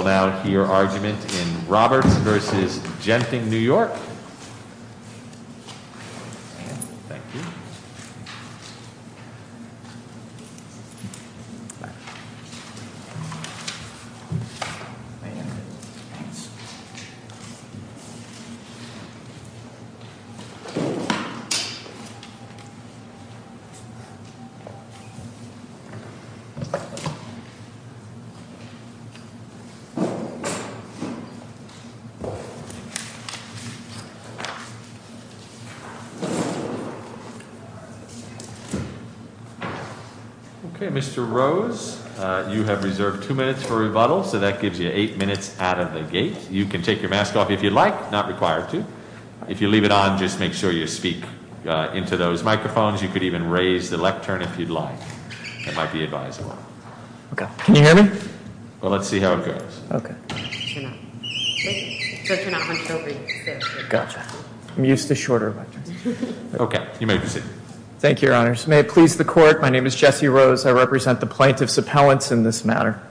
We will now hear argument in Roberts v. Genting, New York. Okay, Mr. Rose, you have reserved two minutes for rebuttal. So that gives you eight minutes out of the gate. You can take your mask off if you'd like. Not required to. If you leave it on, just make sure you speak into those microphones. You could even raise the lectern if you'd like. That might be advisable. Can you hear me? Well, let's see how it goes. Gotcha. I'm used to shorter lectures. Okay, you may proceed. Thank you, Your Honors. May it please the Court, my name is Jesse Rose. I represent the plaintiff's appellants in this matter.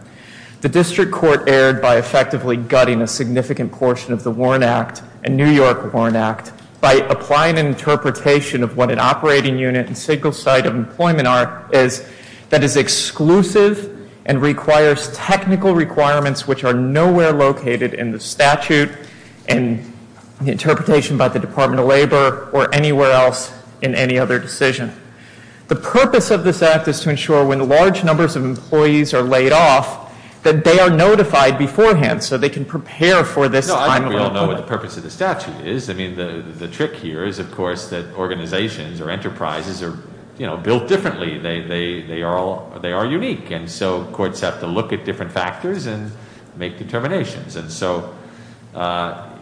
The district court erred by effectively gutting a significant portion of the Warren Act and New York Warren Act by applying an interpretation of what an operating unit and single site of employment are is that is exclusive and requires technical requirements which are nowhere located in the statute and interpretation by the Department of Labor or anywhere else in any other decision. The purpose of this act is to ensure when large numbers of employees are laid off that they are notified beforehand so they can prepare for this time of employment. No, I think we all know what the purpose of the statute is. I mean, the trick here is, of course, that organizations or enterprises are built differently. They are unique. And so courts have to look at different factors and make determinations. And so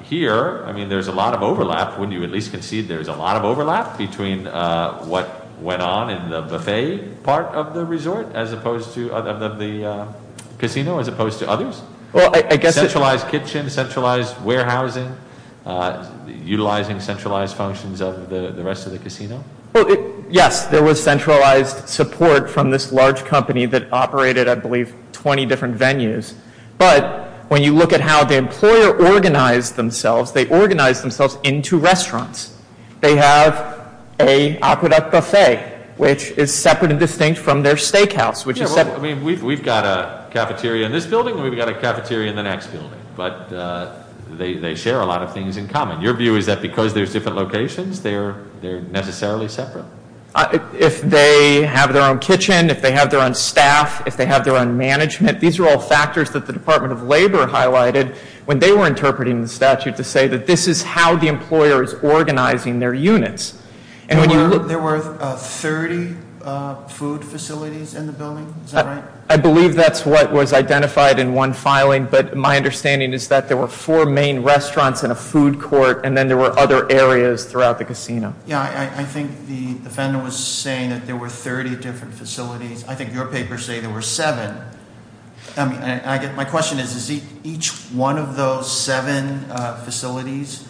here, I mean, there's a lot of overlap, wouldn't you at least concede there's a lot of overlap between what went on in the buffet part of the resort as opposed to the casino as opposed to others? Well, I guess... Centralized kitchen, centralized warehousing, utilizing centralized functions of the rest of the casino? Yes, there was centralized support from this large company that operated, I believe, 20 different venues. But when you look at how the employer organized themselves, they organized themselves into restaurants. They have a aqueduct buffet, which is separate and distinct from their steakhouse, which is separate. Yeah, well, I mean, we've got a cafeteria in this building and we've got a cafeteria in the next building. But they share a lot of things in common. Your view is that because there's different locations, they're necessarily separate? If they have their own kitchen, if they have their own staff, if they have their own management, these are all factors that the Department of Labor highlighted when they were interpreting the statute to say that this is how the employer is organizing their units. There were 30 food facilities in the building, is that right? I believe that's what was identified in one filing, but my understanding is that there were four main restaurants and a food court, and then there were other areas throughout the casino. Yeah, I think the defendant was saying that there were 30 different facilities. I think your papers say there were seven. My question is, is each one of those seven facilities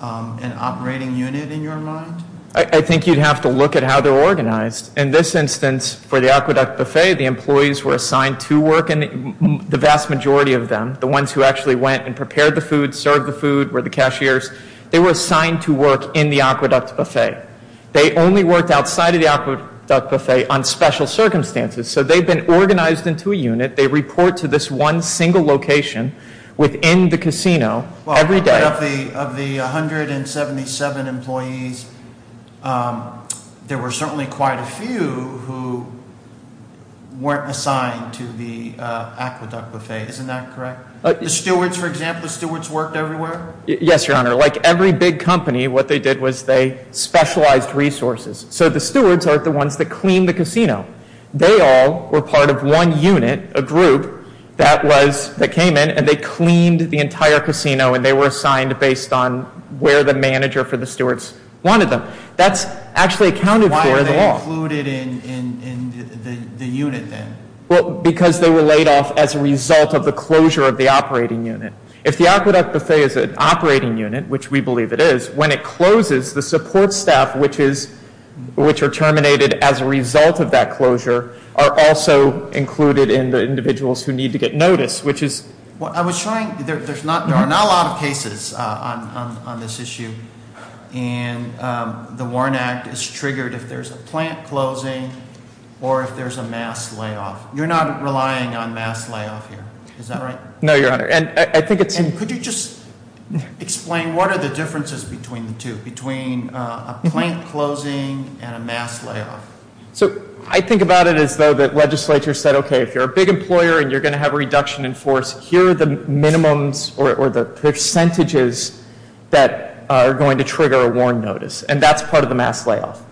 an operating unit in your mind? I think you'd have to look at how they're organized. In this instance, for the Aqueduct Buffet, the employees were assigned to work in the vast majority of them. The ones who actually went and prepared the food, served the food were the cashiers. They were assigned to work in the Aqueduct Buffet. They only worked outside of the Aqueduct Buffet on special circumstances. So they've been organized into a unit. They report to this one single location within the casino every day. Of the 177 employees, there were certainly quite a few who weren't assigned to the Aqueduct Buffet. Isn't that correct? The stewards, for example, the stewards worked everywhere? Yes, Your Honor. Like every big company, what they did was they specialized resources. So the stewards are the ones that clean the casino. They all were part of one unit, a group, that came in and they cleaned the entire casino and they were assigned based on where the manager for the stewards wanted them. That's actually accounted for in the law. Why are they included in the unit then? Because they were laid off as a result of the closure of the operating unit. If the Aqueduct Buffet is an operating unit, which we believe it is, when it closes, the support staff, which are terminated as a result of that closure, are also included in the individuals who need to get notice. There are not a lot of cases on this issue. The Warren Act is triggered if there's a plant closing or if there's a mass layoff. You're not relying on mass layoff here, is that right? No, Your Honor. Could you just explain what are the differences between the two, between a plant closing and a mass layoff? I think about it as though the legislature said, okay, if you're a big employer and you're going to have a reduction in force, here are the minimums or the percentages that are going to trigger a Warren notice, and that's part of the mass layoff.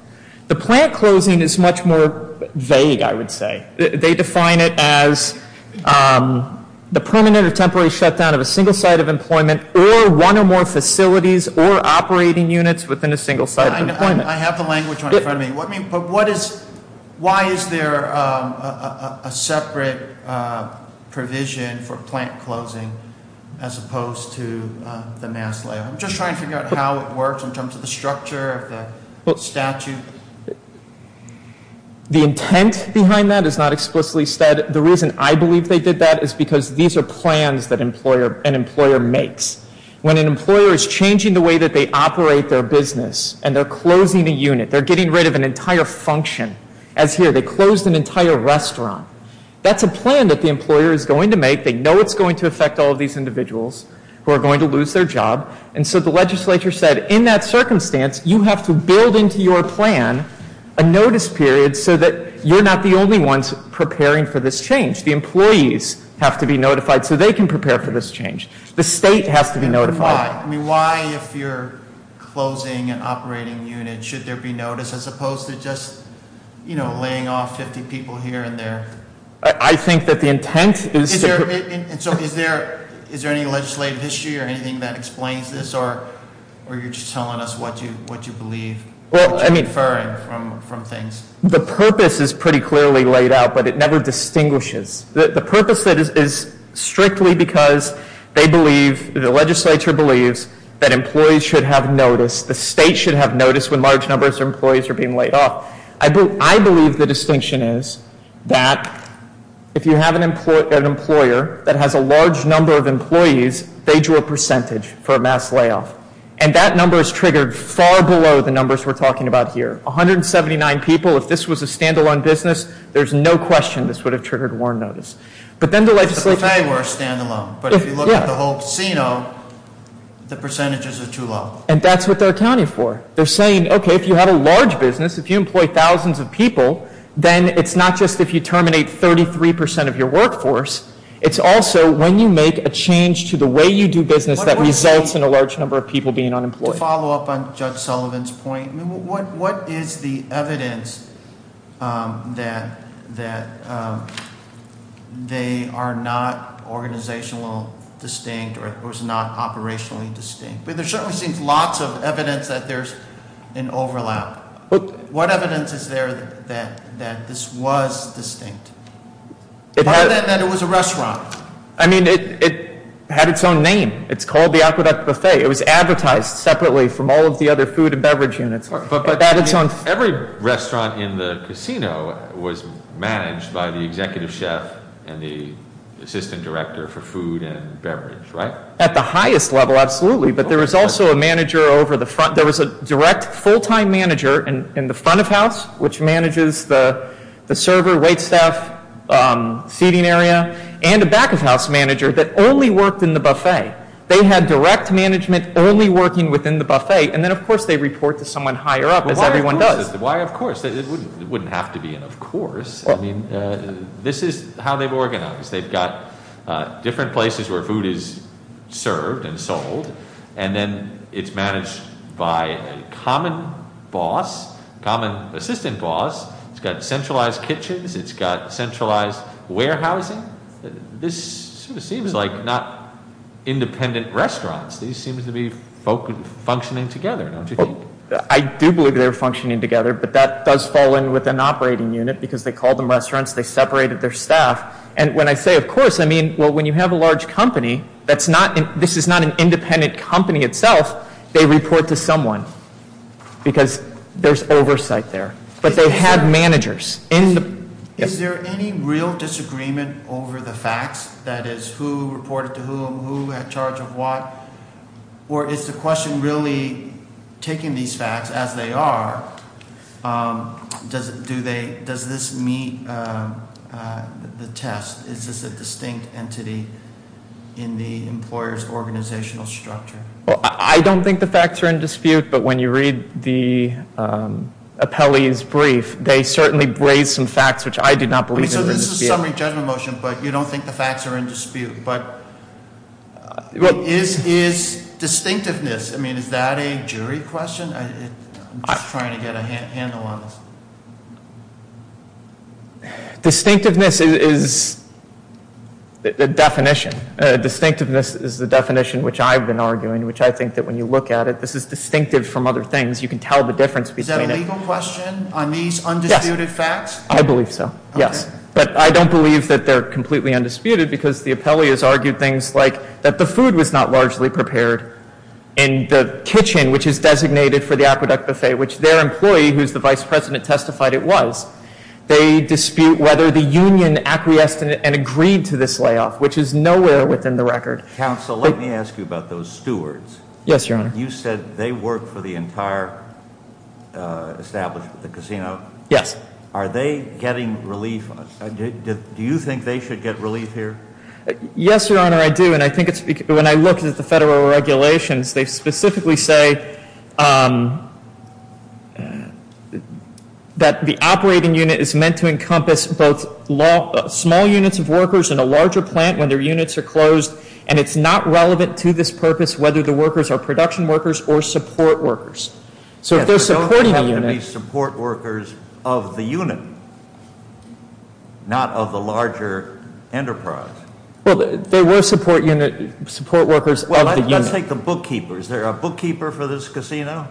The plant closing is much more vague, I would say. They define it as the permanent or temporary shutdown of a single site of employment or one or more facilities or operating units within a single site of employment. I have the language in front of me. But why is there a separate provision for plant closing as opposed to the mass layoff? I'm just trying to figure out how it works in terms of the structure of the statute. The intent behind that is not explicitly said. The reason I believe they did that is because these are plans that an employer makes. When an employer is changing the way that they operate their business and they're closing a unit, they're getting rid of an entire function. As here, they closed an entire restaurant. That's a plan that the employer is going to make. They know it's going to affect all of these individuals who are going to lose their job. And so the legislature said, in that circumstance, you have to build into your plan a notice period so that you're not the only ones preparing for this change. The employees have to be notified so they can prepare for this change. The state has to be notified. I mean, why, if you're closing an operating unit, should there be notice as opposed to just, you know, laying off 50 people here and there? I think that the intent is to... And so is there any legislative issue or anything that explains this? Or are you just telling us what you believe? Well, I mean... What you're inferring from things? The purpose is pretty clearly laid out, but it never distinguishes. The purpose is strictly because they believe, the legislature believes, that employees should have notice. The state should have notice when large numbers of employees are being laid off. I believe the distinction is that if you have an employer that has a large number of employees, they drew a percentage for a mass layoff. And that number is triggered far below the numbers we're talking about here. 179 people, if this was a stand-alone business, there's no question this would have triggered warrant notice. But then the legislature... If the buffet were a stand-alone. But if you look at the whole casino, the percentages are too low. And that's what they're accounting for. They're saying, okay, if you have a large business, if you employ thousands of people, then it's not just if you terminate 33% of your workforce, it's also when you make a change to the way you do business that results in a large number of people being unemployed. To follow up on Judge Sullivan's point, what is the evidence that they are not organizationally distinct or is not operationally distinct? I mean, there certainly seems lots of evidence that there's an overlap. What evidence is there that this was distinct? Other than that it was a restaurant. I mean, it had its own name. It's called the Aqueduct Buffet. It was advertised separately from all of the other food and beverage units. Every restaurant in the casino was managed by the executive chef and the assistant director for food and beverage, right? At the highest level, absolutely. But there was also a manager over the front. There was a direct full-time manager in the front of house, which manages the server, wait staff, seating area, and a back of house manager that only worked in the buffet. They had direct management only working within the buffet. And then, of course, they report to someone higher up, as everyone does. Why of course? It wouldn't have to be an of course. I mean, this is how they've organized. They've got different places where food is served and sold. And then it's managed by a common boss, common assistant boss. It's got centralized kitchens. It's got centralized warehousing. This sort of seems like not independent restaurants. These seem to be functioning together, don't you think? I do believe they're functioning together, but that does fall in with an operating unit because they called them restaurants. They separated their staff. And when I say of course, I mean, well, when you have a large company, this is not an independent company itself. They report to someone because there's oversight there. But they had managers. Is there any real disagreement over the facts? That is, who reported to whom, who had charge of what? Or is the question really taking these facts as they are? Does this meet the test? Is this a distinct entity in the employer's organizational structure? Well, I don't think the facts are in dispute. But when you read the appellee's brief, they certainly raised some facts, which I do not believe are in dispute. So this is a summary judgment motion, but you don't think the facts are in dispute. But is distinctiveness, I mean, is that a jury question? I'm just trying to get a handle on this. Distinctiveness is a definition. Distinctiveness is the definition which I've been arguing, which I think that when you look at it, this is distinctive from other things. You can tell the difference between them. Is that a legal question on these undisputed facts? I believe so, yes. But I don't believe that they're completely undisputed because the appellee has argued things like that the food was not largely prepared. And the kitchen, which is designated for the aqueduct buffet, which their employee, who's the vice president, testified it was, they dispute whether the union acquiesced and agreed to this layoff, which is nowhere within the record. Counsel, let me ask you about those stewards. Yes, Your Honor. You said they work for the entire establishment, the casino. Yes. Are they getting relief? Do you think they should get relief here? Yes, Your Honor, I do. And I think when I look at the federal regulations, they specifically say that the operating unit is meant to encompass both small units of workers and a larger plant when their units are closed. And it's not relevant to this purpose whether the workers are production workers or support workers. So if they're supporting a unit Yes, but they don't have to be support workers of the unit, not of the larger enterprise. Well, they were support workers of the unit. Well, let's take the bookkeeper. Is there a bookkeeper for this casino,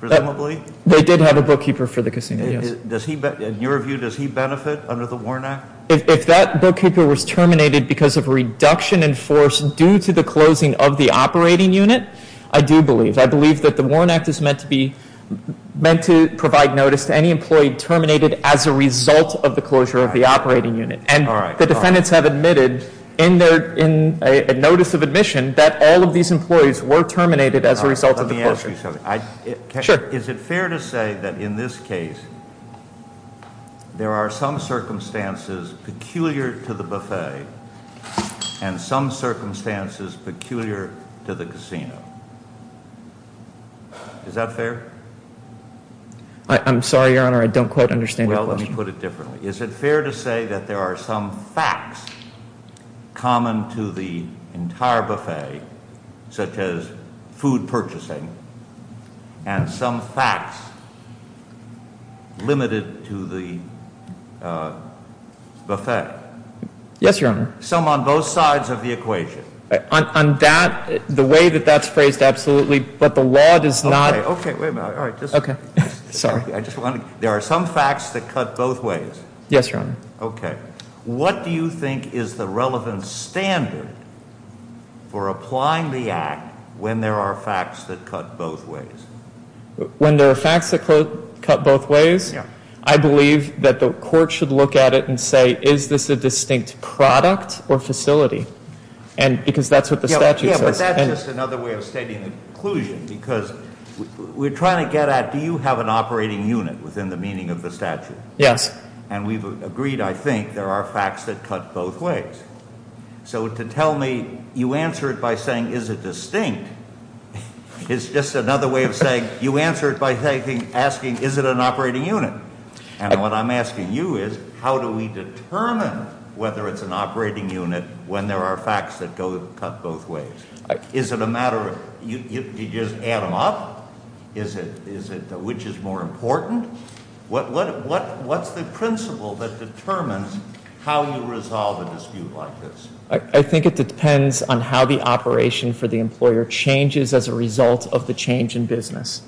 presumably? They did have a bookkeeper for the casino, yes. In your view, does he benefit under the WARN Act? If that bookkeeper was terminated because of reduction in force due to the closing of the operating unit, I do believe. I believe that the WARN Act is meant to provide notice to any employee terminated as a result of the closure of the operating unit. And the defendants have admitted in a notice of admission that all of these employees were terminated as a result of the closure. Let me ask you something. Sure. Is it fair to say that in this case, there are some circumstances peculiar to the buffet and some circumstances peculiar to the casino? Is that fair? I'm sorry, Your Honor, I don't quite understand your question. Well, let me put it differently. Is it fair to say that there are some facts common to the entire buffet, such as food purchasing, and some facts limited to the buffet? Yes, Your Honor. Some on both sides of the equation? On that, the way that that's phrased, absolutely. But the law does not. Okay. Wait a minute. Okay. Sorry. There are some facts that cut both ways. Yes, Your Honor. Okay. What do you think is the relevant standard for applying the act when there are facts that cut both ways? When there are facts that cut both ways, I believe that the court should look at it and say, is this a distinct product or facility? Because that's what the statute says. But that's just another way of stating the conclusion, because we're trying to get at, do you have an operating unit within the meaning of the statute? Yes. And we've agreed, I think, there are facts that cut both ways. So to tell me you answer it by saying, is it distinct, is just another way of saying you answer it by asking, is it an operating unit? And what I'm asking you is, how do we determine whether it's an operating unit when there are facts that cut both ways? Is it a matter of, you just add them up? Is it, which is more important? What's the principle that determines how you resolve a dispute like this? I think it depends on how the operation for the employer changes as a result of the change in business.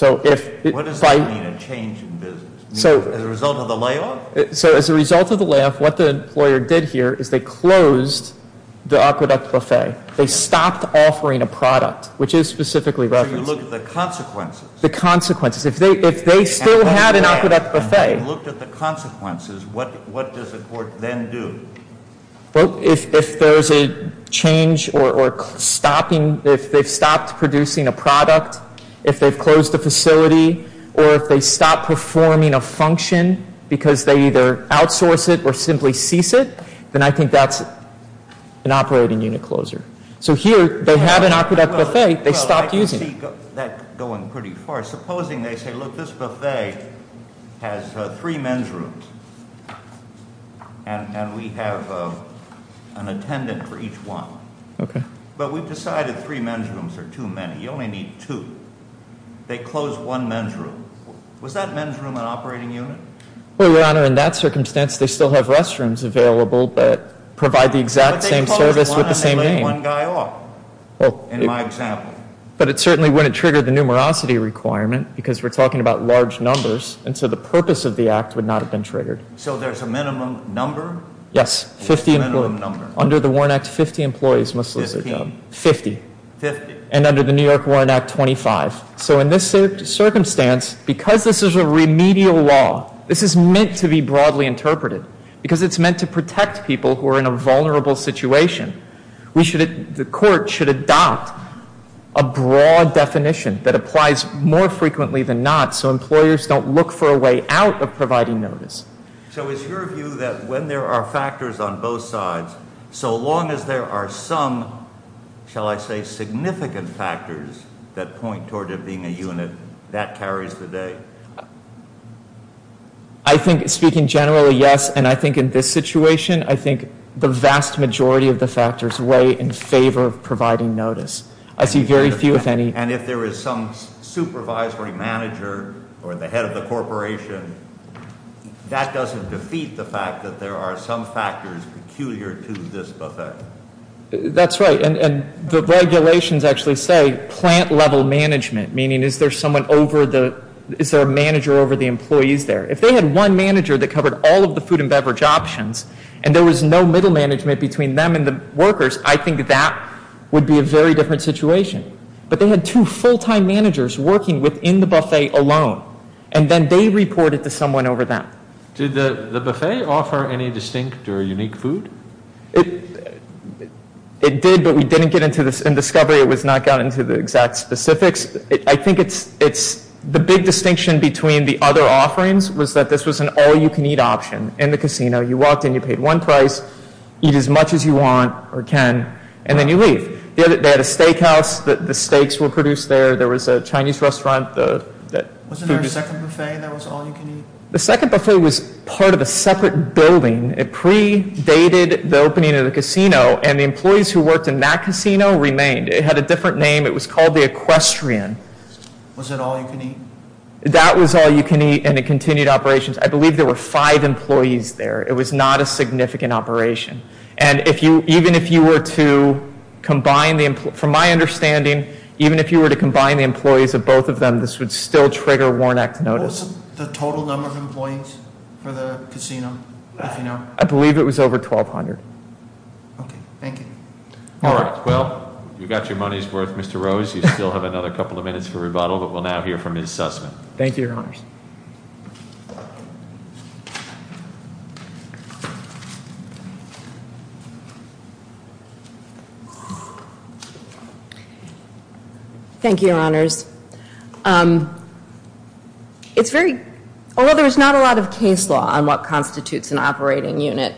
What does that mean, a change in business? As a result of the layoff? So as a result of the layoff, what the employer did here is they closed the aqueduct buffet. They stopped offering a product, which is specifically referenced. So you look at the consequences. The consequences. If they still had an aqueduct buffet. And if you looked at the consequences, what does the court then do? Well, if there's a change or stopping, if they've stopped producing a product, if they've closed the facility, or if they stop performing a function because they either outsource it or simply cease it, then I think that's an operating unit closer. So here, they have an aqueduct buffet, they stopped using it. Well, I can see that going pretty far. Supposing they say, look, this buffet has three men's rooms. And we have an attendant for each one. Okay. But we've decided three men's rooms are too many. You only need two. They closed one men's room. Was that men's room an operating unit? Well, Your Honor, in that circumstance, they still have restrooms available that provide the exact same service with the same name. But they closed one and they let one guy off, in my example. But it certainly wouldn't trigger the numerosity requirement, because we're talking about large numbers. And so the purpose of the act would not have been triggered. So there's a minimum number? Yes. Under the Warren Act, 50 employees must lose their job. Fifty. Fifty. And under the New York Warren Act, 25. So in this circumstance, because this is a remedial law, this is meant to be broadly interpreted, because it's meant to protect people who are in a vulnerable situation. The court should adopt a broad definition that applies more frequently than not, so employers don't look for a way out of providing notice. So is your view that when there are factors on both sides, so long as there are some, shall I say, significant factors that point toward it being a unit, that carries the day? I think, speaking generally, yes. And I think in this situation, I think the vast majority of the factors weigh in favor of providing notice. I see very few, if any. And if there is some supervisory manager or the head of the corporation, that doesn't defeat the fact that there are some factors peculiar to this buffet. That's right. And the regulations actually say plant-level management, meaning is there someone over the, is there a manager over the employees there? If they had one manager that covered all of the food and beverage options, and there was no middle management between them and the workers, I think that would be a very different situation. But they had two full-time managers working within the buffet alone, and then they reported to someone over them. Did the buffet offer any distinct or unique food? It did, but we didn't get into this in discovery. It was not gotten into the exact specifics. The big distinction between the other offerings was that this was an all-you-can-eat option in the casino. You walked in, you paid one price, eat as much as you want or can, and then you leave. They had a steakhouse. The steaks were produced there. There was a Chinese restaurant. Wasn't there a second buffet that was all-you-can-eat? The second buffet was part of a separate building. It pre-dated the opening of the casino, and the employees who worked in that casino remained. It had a different name. It was called the Equestrian. Was it all-you-can-eat? That was all-you-can-eat, and it continued operations. I believe there were five employees there. It was not a significant operation. From my understanding, even if you were to combine the employees of both of them, this would still trigger Warren Act notice. What was the total number of employees for the casino, if you know? I believe it was over 1,200. Okay, thank you. All right, well, you've got your money's worth, Mr. Rose. You still have another couple of minutes for rebuttal, but we'll now hear from Ms. Sussman. Thank you, Your Honors. Thank you, Your Honors. Although there's not a lot of case law on what constitutes an operating unit,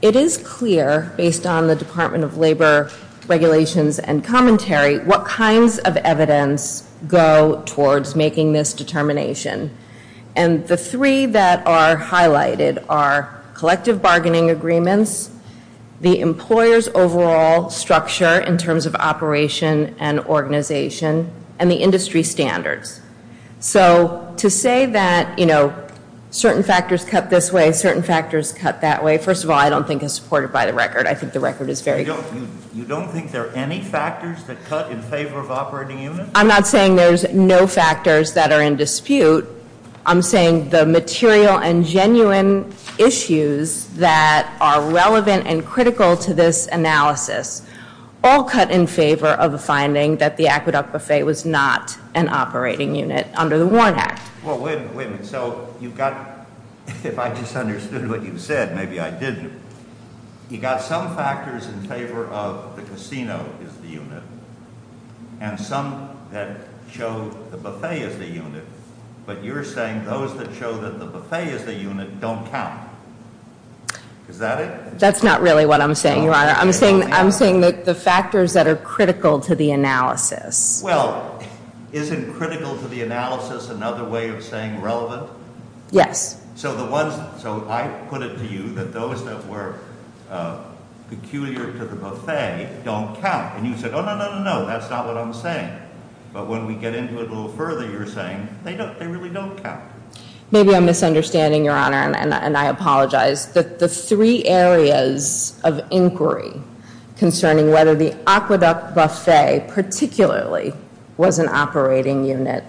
it is clear, based on the Department of Labor regulations and commentary, what kinds of evidence go towards making this determination. And the three that are highlighted are collective bargaining agreements, the employer's overall structure in terms of operation and organization, and the industry standards. So to say that certain factors cut this way, certain factors cut that way, first of all, I don't think it's supported by the record. I think the record is very good. You don't think there are any factors that cut in favor of operating units? I'm not saying there's no factors that are in dispute. I'm saying the material and genuine issues that are relevant and critical to this analysis all cut in favor of the finding that the Aqueduct Buffet was not an operating unit under the Warren Act. Well, wait a minute. So you've got, if I just understood what you said, maybe I didn't, you've got some factors in favor of the casino as the unit, and some that show the buffet as the unit, but you're saying those that show that the buffet as the unit don't count. Is that it? That's not really what I'm saying, Your Honor. I'm saying the factors that are critical to the analysis. Well, isn't critical to the analysis another way of saying relevant? Yes. So I put it to you that those that were peculiar to the buffet don't count. And you said, oh, no, no, no, no, that's not what I'm saying. But when we get into it a little further, you're saying they really don't count. Maybe I'm misunderstanding, Your Honor, and I apologize. But the three areas of inquiry concerning whether the aqueduct buffet particularly was an operating unit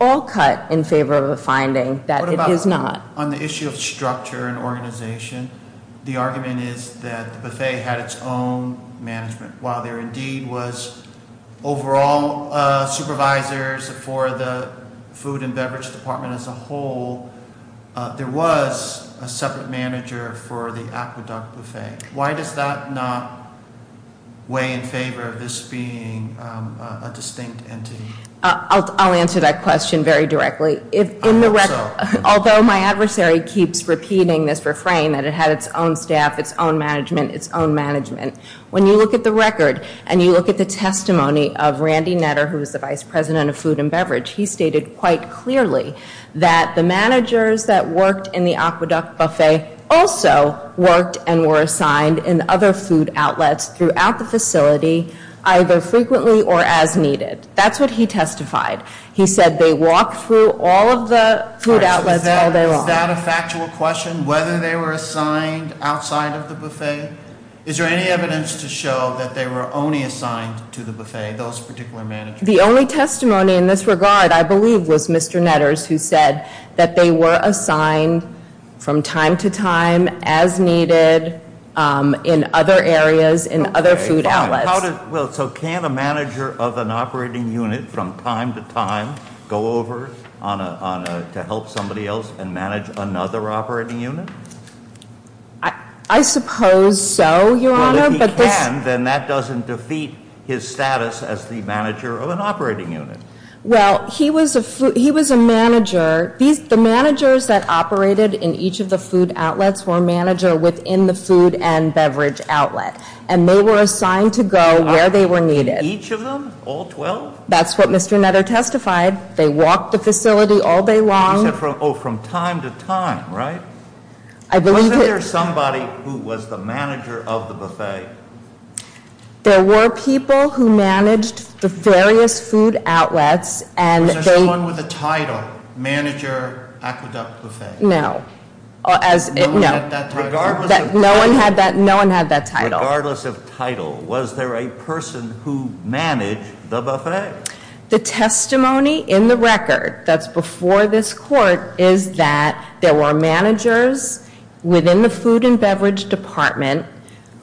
all cut in favor of a finding that it is not. On the issue of structure and organization, the argument is that the buffet had its own management. While there indeed was overall supervisors for the food and beverage department as a whole, there was a separate manager for the aqueduct buffet. Why does that not weigh in favor of this being a distinct entity? I'll answer that question very directly. Although my adversary keeps repeating this refrain that it had its own staff, its own management, its own management, when you look at the record and you look at the testimony of Randy Netter, who was the vice president of food and beverage, he stated quite clearly that the managers that worked in the aqueduct buffet also worked and were assigned in other food outlets throughout the facility, either frequently or as needed. That's what he testified. He said they walked through all of the food outlets all day long. Is that a factual question, whether they were assigned outside of the buffet? Is there any evidence to show that they were only assigned to the buffet, those particular managers? The only testimony in this regard, I believe, was Mr. Netter's, who said that they were assigned from time to time as needed in other areas, in other food outlets. So can a manager of an operating unit from time to time go over to help somebody else and manage another operating unit? I suppose so, Your Honor. Well, if he can, then that doesn't defeat his status as the manager of an operating unit. Well, he was a manager. The managers that operated in each of the food outlets were manager within the food and beverage outlet, and they were assigned to go where they were needed. Each of them? All 12? That's what Mr. Netter testified. They walked the facility all day long. Oh, from time to time, right? Was there somebody who was the manager of the buffet? There were people who managed the various food outlets. Was there someone with a title, Manager Aqueduct Buffet? No. No one had that title? No one had that title. Regardless of title, was there a person who managed the buffet? The testimony in the record that's before this Court is that there were managers within the food and beverage department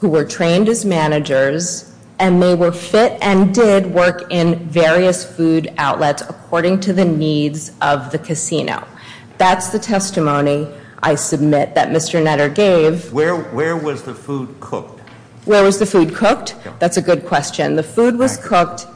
who were trained as managers, and they were fit and did work in various food outlets according to the needs of the casino. That's the testimony I submit that Mr. Netter gave. Where was the food cooked? Where was the food cooked? That's a good question. The food was cooked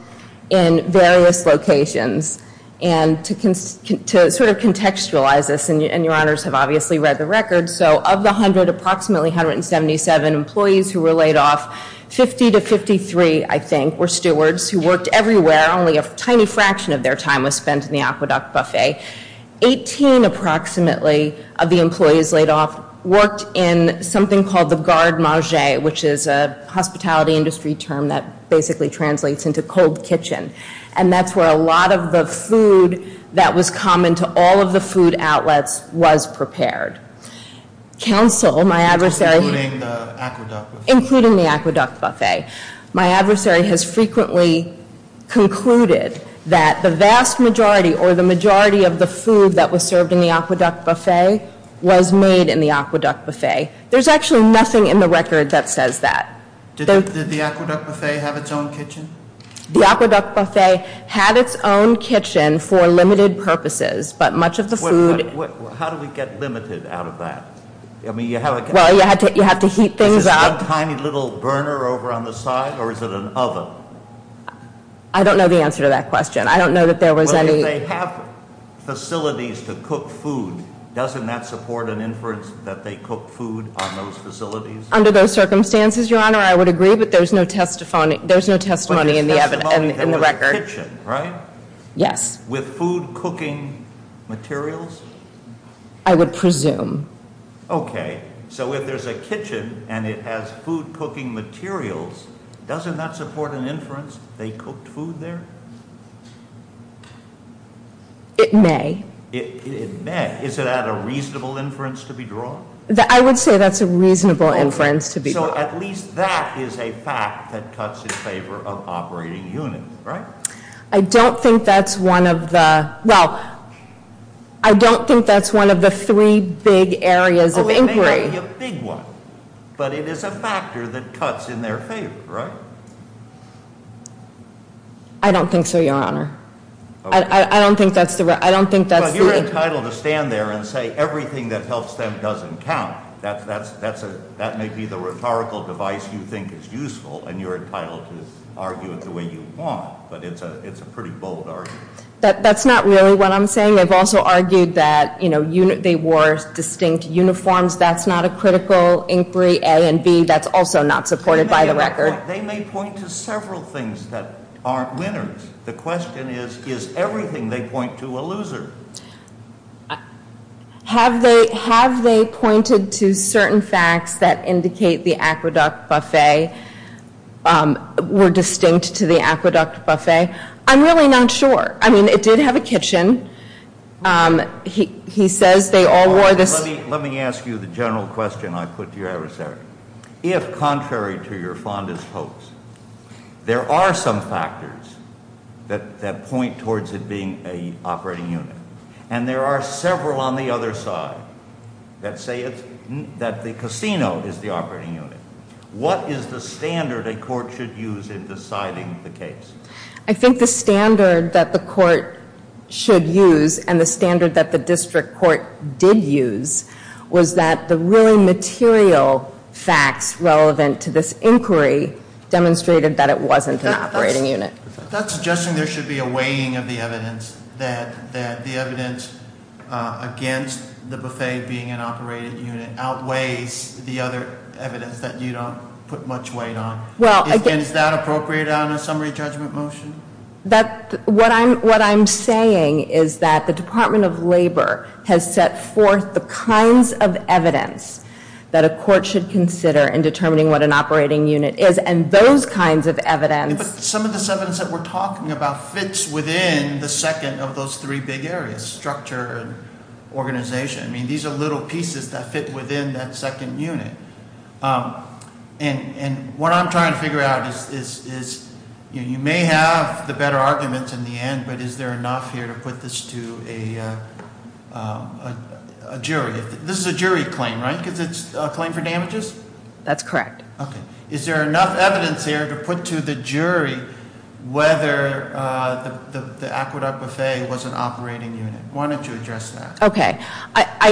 in various locations. To sort of contextualize this, and Your Honors have obviously read the record, so of the approximately 177 employees who were laid off, 50 to 53, I think, were stewards who worked everywhere. Only a tiny fraction of their time was spent in the Aqueduct Buffet. Eighteen, approximately, of the employees laid off worked in something called the garde margée, which is a hospitality industry term that basically translates into cold kitchen. And that's where a lot of the food that was common to all of the food outlets was prepared. Counsel, my adversary... Including the Aqueduct Buffet. Including the Aqueduct Buffet. My adversary has frequently concluded that the vast majority or the majority of the food that was served in the Aqueduct Buffet was made in the Aqueduct Buffet. There's actually nothing in the record that says that. Did the Aqueduct Buffet have its own kitchen? The Aqueduct Buffet had its own kitchen for limited purposes, but much of the food... How do we get limited out of that? Well, you have to heat things up. Is it one tiny little burner over on the side, or is it an oven? I don't know the answer to that question. I don't know that there was any... Well, if they have facilities to cook food, doesn't that support an inference that they cook food on those facilities? Under those circumstances, Your Honor, I would agree, but there's no testimony in the record. There was a kitchen, right? Yes. With food-cooking materials? I would presume. Okay. So if there's a kitchen and it has food-cooking materials, doesn't that support an inference they cooked food there? It may. It may. Is that a reasonable inference to be drawn? I would say that's a reasonable inference to be drawn. So at least that is a fact that cuts in favor of operating units, right? I don't think that's one of the three big areas of inquiry. Oh, it may not be a big one, but it is a factor that cuts in their favor, right? I don't think so, Your Honor. I don't think that's the... But you're entitled to stand there and say everything that helps them doesn't count. That may be the rhetorical device you think is useful, and you're entitled to argue it the way you want, but it's a pretty bold argument. That's not really what I'm saying. I've also argued that they wore distinct uniforms. That's not a critical inquiry, A and B. That's also not supported by the record. They may point to several things that aren't winners. The question is, is everything they point to a loser? Have they pointed to certain facts that indicate the Aqueduct Buffet were distinct to the Aqueduct Buffet? I'm really not sure. I mean, it did have a kitchen. He says they all wore the same. Let me ask you the general question I put to your adversary. If, contrary to your fondest hopes, there are some factors that point towards it being an operating unit, and there are several on the other side that say that the casino is the operating unit, what is the standard a court should use in deciding the case? I think the standard that the court should use and the standard that the district court did use was that the really material facts relevant to this inquiry demonstrated that it wasn't an operating unit. That's suggesting there should be a weighing of the evidence, that the evidence against the buffet being an operating unit outweighs the other evidence that you don't put much weight on. Is that appropriate on a summary judgment motion? What I'm saying is that the Department of Labor has set forth the kinds of evidence that a court should consider in determining what an operating unit is, and those kinds of evidence- But some of this evidence that we're talking about fits within the second of those three big areas, structure and organization. I mean, these are little pieces that fit within that second unit. And what I'm trying to figure out is, you may have the better arguments in the end, but is there enough here to put this to a jury? This is a jury claim, right? Because it's a claim for damages? That's correct. Okay. Is there enough evidence here to put to the jury whether the Aqueduct Buffet was an operating unit? Why don't you address that? Okay.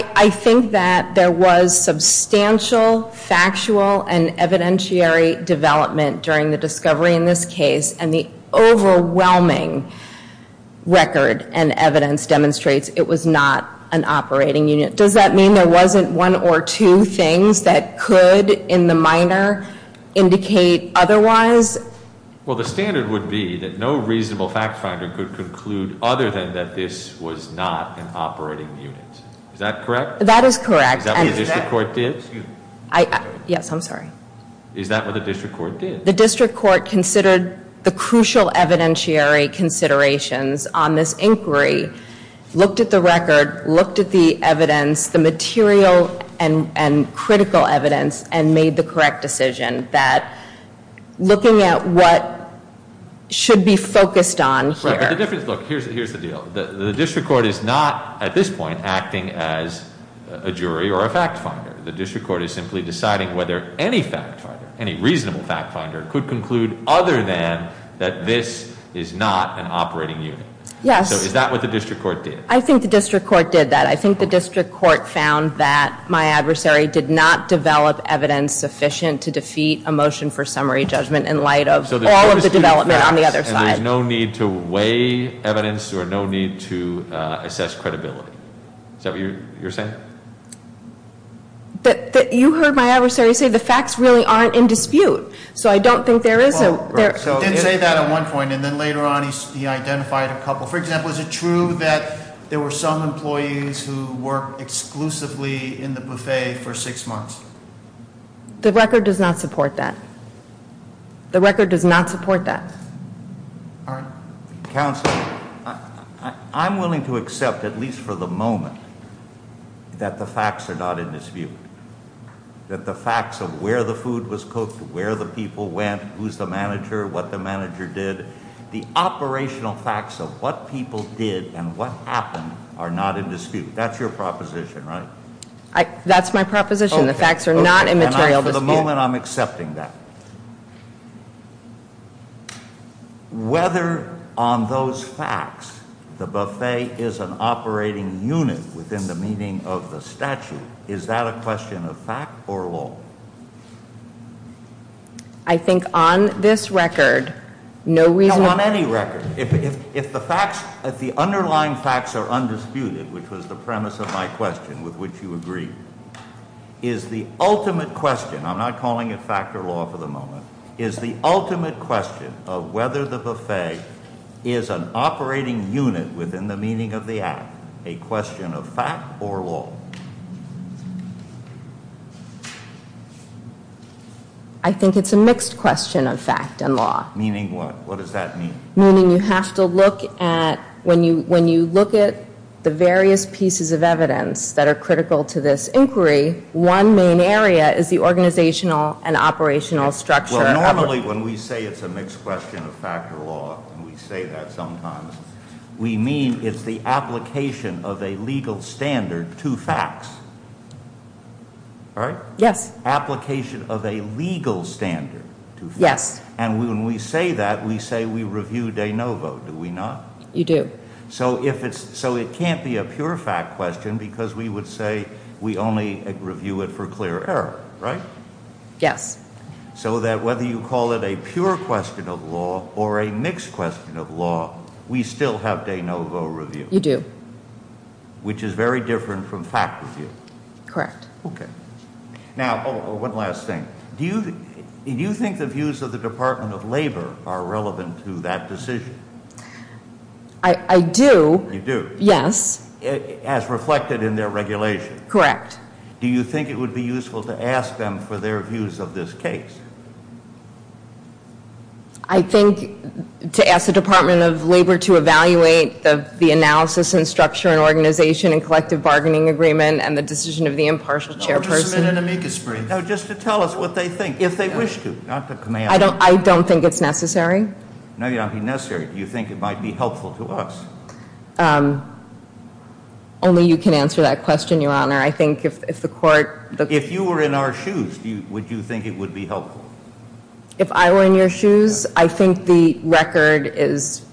I think that there was substantial factual and evidentiary development during the discovery in this case, and the overwhelming record and evidence demonstrates it was not an operating unit. Does that mean there wasn't one or two things that could, in the minor, indicate otherwise? Well, the standard would be that no reasonable fact finder could conclude other than that this was not an operating unit. Is that correct? That is correct. Is that what the district court did? Yes, I'm sorry. Is that what the district court did? The district court considered the crucial evidentiary considerations on this inquiry, looked at the record, looked at the evidence, the material and critical evidence, and made the correct decision that looking at what should be focused on here. Look, here's the deal. The district court is not, at this point, acting as a jury or a fact finder. The district court is simply deciding whether any fact finder, any reasonable fact finder, could conclude other than that this is not an operating unit. Yes. So is that what the district court did? I think the district court did that. I think the district court found that my adversary did not develop evidence sufficient to defeat a motion for summary judgment in light of all of the development on the other side. So there's no need to weigh evidence or no need to assess credibility. Is that what you're saying? You heard my adversary say the facts really aren't in dispute. So I don't think there is a- He didn't say that at one point, and then later on he identified a couple. For example, is it true that there were some employees who worked exclusively in the buffet for six months? The record does not support that. The record does not support that. All right. Counsel, I'm willing to accept, at least for the moment, that the facts are not in dispute. That the facts of where the food was cooked, where the people went, who's the manager, what the manager did, the operational facts of what people did and what happened are not in dispute. That's your proposition, right? That's my proposition. The facts are not in material dispute. For the moment, I'm accepting that. Whether on those facts the buffet is an operating unit within the meaning of the statute, is that a question of fact or law? I think on this record, no reason- No, on any record. If the facts, if the underlying facts are undisputed, which was the premise of my question, with which you agreed, is the ultimate question, I'm not calling it fact or law for the moment, is the ultimate question of whether the buffet is an operating unit within the meaning of the act a question of fact or law? I think it's a mixed question of fact and law. Meaning what? What does that mean? Meaning you have to look at, when you look at the various pieces of evidence that are critical to this inquiry, one main area is the organizational and operational structure- Well, normally when we say it's a mixed question of fact or law, and we say that sometimes, we mean it's the application of a legal standard to facts, right? Yes. Application of a legal standard to facts. Yes. And when we say that, we say we review de novo, do we not? You do. So it can't be a pure fact question because we would say we only review it for clear error, right? Yes. So that whether you call it a pure question of law or a mixed question of law, we still have de novo review. You do. Which is very different from fact review. Correct. Okay. Now, one last thing. Do you think the views of the Department of Labor are relevant to that decision? I do. You do? Yes. As reflected in their regulation? Correct. Do you think it would be useful to ask them for their views of this case? I think to ask the Department of Labor to evaluate the analysis and structure and organization and collective bargaining agreement and the decision of the impartial chairperson. No, just to tell us what they think, if they wish to. I don't think it's necessary. No, you don't think it's necessary. Do you think it might be helpful to us? Only you can answer that question, Your Honor. If you were in our shoes, would you think it would be helpful? If I were in your shoes, I think the record is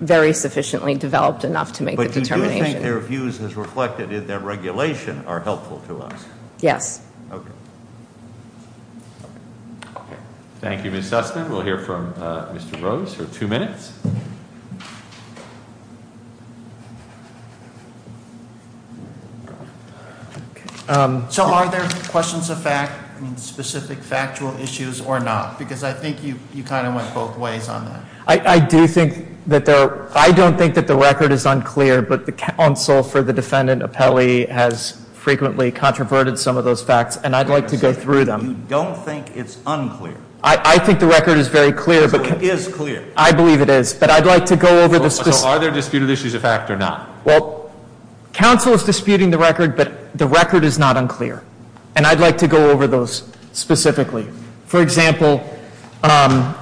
very sufficiently developed enough to make the determination. But do you think their views as reflected in their regulation are helpful to us? Yes. Okay. Thank you, Ms. Sussman. We'll hear from Mr. Rose for two minutes. So are there questions of fact, specific factual issues or not? Because I think you kind of went both ways on that. I do think that the record is unclear, but the counsel for the defendant, Apelli, has frequently controverted some of those facts. And I'd like to go through them. You don't think it's unclear? I think the record is very clear. So it is clear? I believe it is. But I'd like to go over this. So are there disputed issues of fact or not? Well, counsel is disputing the record, but the record is not unclear. And I'd like to go over those specifically. For example,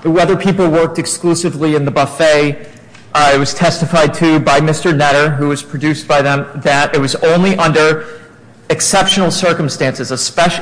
whether people worked exclusively in the buffet was testified to by Mr. Netter, who was produced by them, that it was only under exceptional circumstances.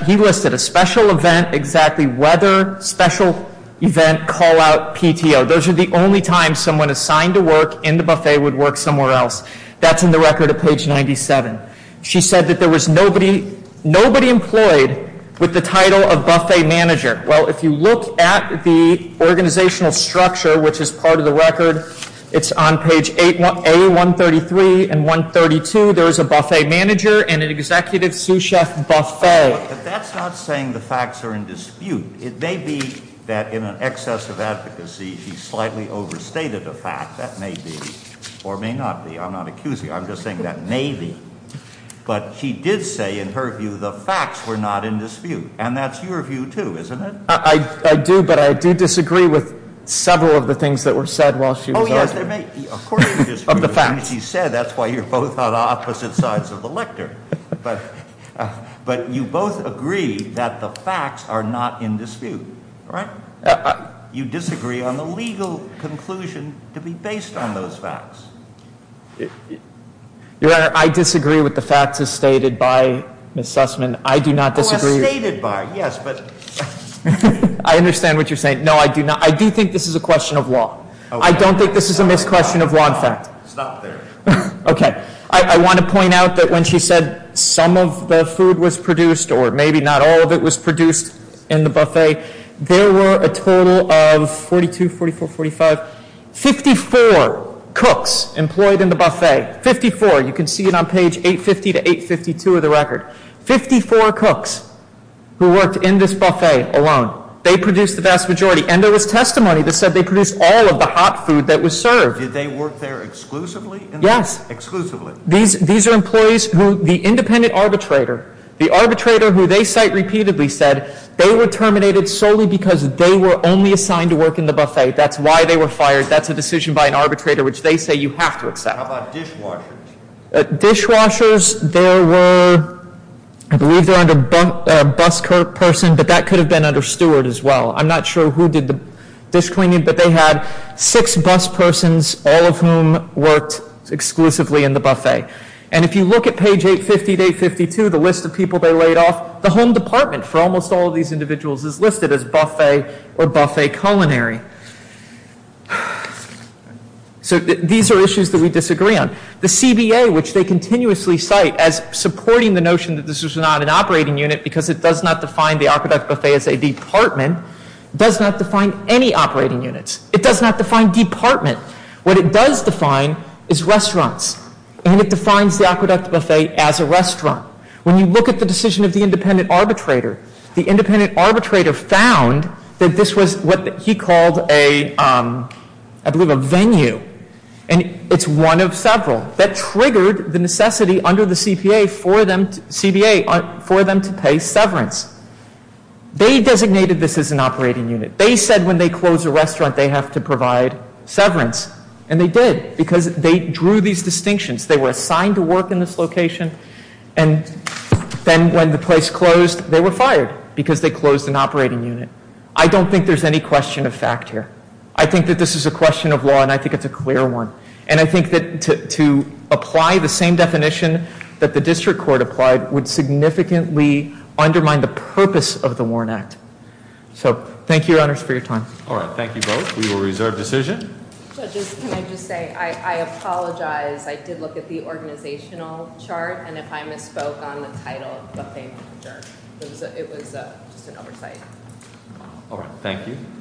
He listed a special event, exactly whether special event call-out PTO. Those are the only times someone assigned to work in the buffet would work somewhere else. That's in the record at page 97. She said that there was nobody employed with the title of buffet manager. Well, if you look at the organizational structure, which is part of the record, it's on page A133 and 132. There is a buffet manager and an executive sous chef buffet. But that's not saying the facts are in dispute. It may be that in an excess of advocacy, she slightly overstated a fact. That may be or may not be. I'm not accusing her. I'm just saying that may be. But she did say, in her view, the facts were not in dispute. And that's your view, too, isn't it? I do, but I do disagree with several of the things that were said while she was arguing. Oh, yes, there may be. Of course you disagree. Of the facts. She said that's why you're both on opposite sides of the lectern. But you both agree that the facts are not in dispute, right? You disagree on the legal conclusion to be based on those facts. Your Honor, I disagree with the facts as stated by Ms. Sussman. I do not disagree. Oh, as stated by. Yes, but. I understand what you're saying. No, I do not. I do think this is a question of law. I don't think this is a misquestion of law and fact. Stop there. Okay. I want to point out that when she said some of the food was produced or maybe not all of it was produced in the buffet, there were a total of 42, 44, 45, 54 cooks employed in the buffet. Fifty-four. You can see it on page 850 to 852 of the record. Fifty-four cooks who worked in this buffet alone. They produced the vast majority. And there was testimony that said they produced all of the hot food that was served. Did they work there exclusively? Yes. Exclusively. These are employees who the independent arbitrator, the arbitrator who they cite repeatedly, said they were terminated solely because they were only assigned to work in the buffet. That's why they were fired. That's a decision by an arbitrator which they say you have to accept. How about dishwashers? Dishwashers, there were, I believe they're under bus person, but that could have been under steward as well. I'm not sure who did the dish cleaning, but they had six bus persons, all of whom worked exclusively in the buffet. And if you look at page 850 to 852, the list of people they laid off, the home department for almost all of these individuals is listed as buffet or buffet culinary. So these are issues that we disagree on. The CBA, which they continuously cite as supporting the notion that this was not an operating unit because it does not define the aqueduct buffet as a department, does not define any operating units. It does not define department. What it does define is restaurants, and it defines the aqueduct buffet as a restaurant. When you look at the decision of the independent arbitrator, the independent arbitrator found that this was what he called a, I believe, a venue. And it's one of several. That triggered the necessity under the CBA for them to pay severance. They designated this as an operating unit. They said when they close a restaurant, they have to provide severance. And they did because they drew these distinctions. They were assigned to work in this location, and then when the place closed, they were fired because they closed an operating unit. I don't think there's any question of fact here. I think that this is a question of law, and I think it's a clear one. And I think that to apply the same definition that the district court applied would significantly undermine the purpose of the Warren Act. So thank you, Your Honors, for your time. All right. Thank you both. We will reserve decision. Judge, can I just say I apologize. I did look at the organizational chart, and if I misspoke on the title of buffet, it was just an oversight. All right. Thank you.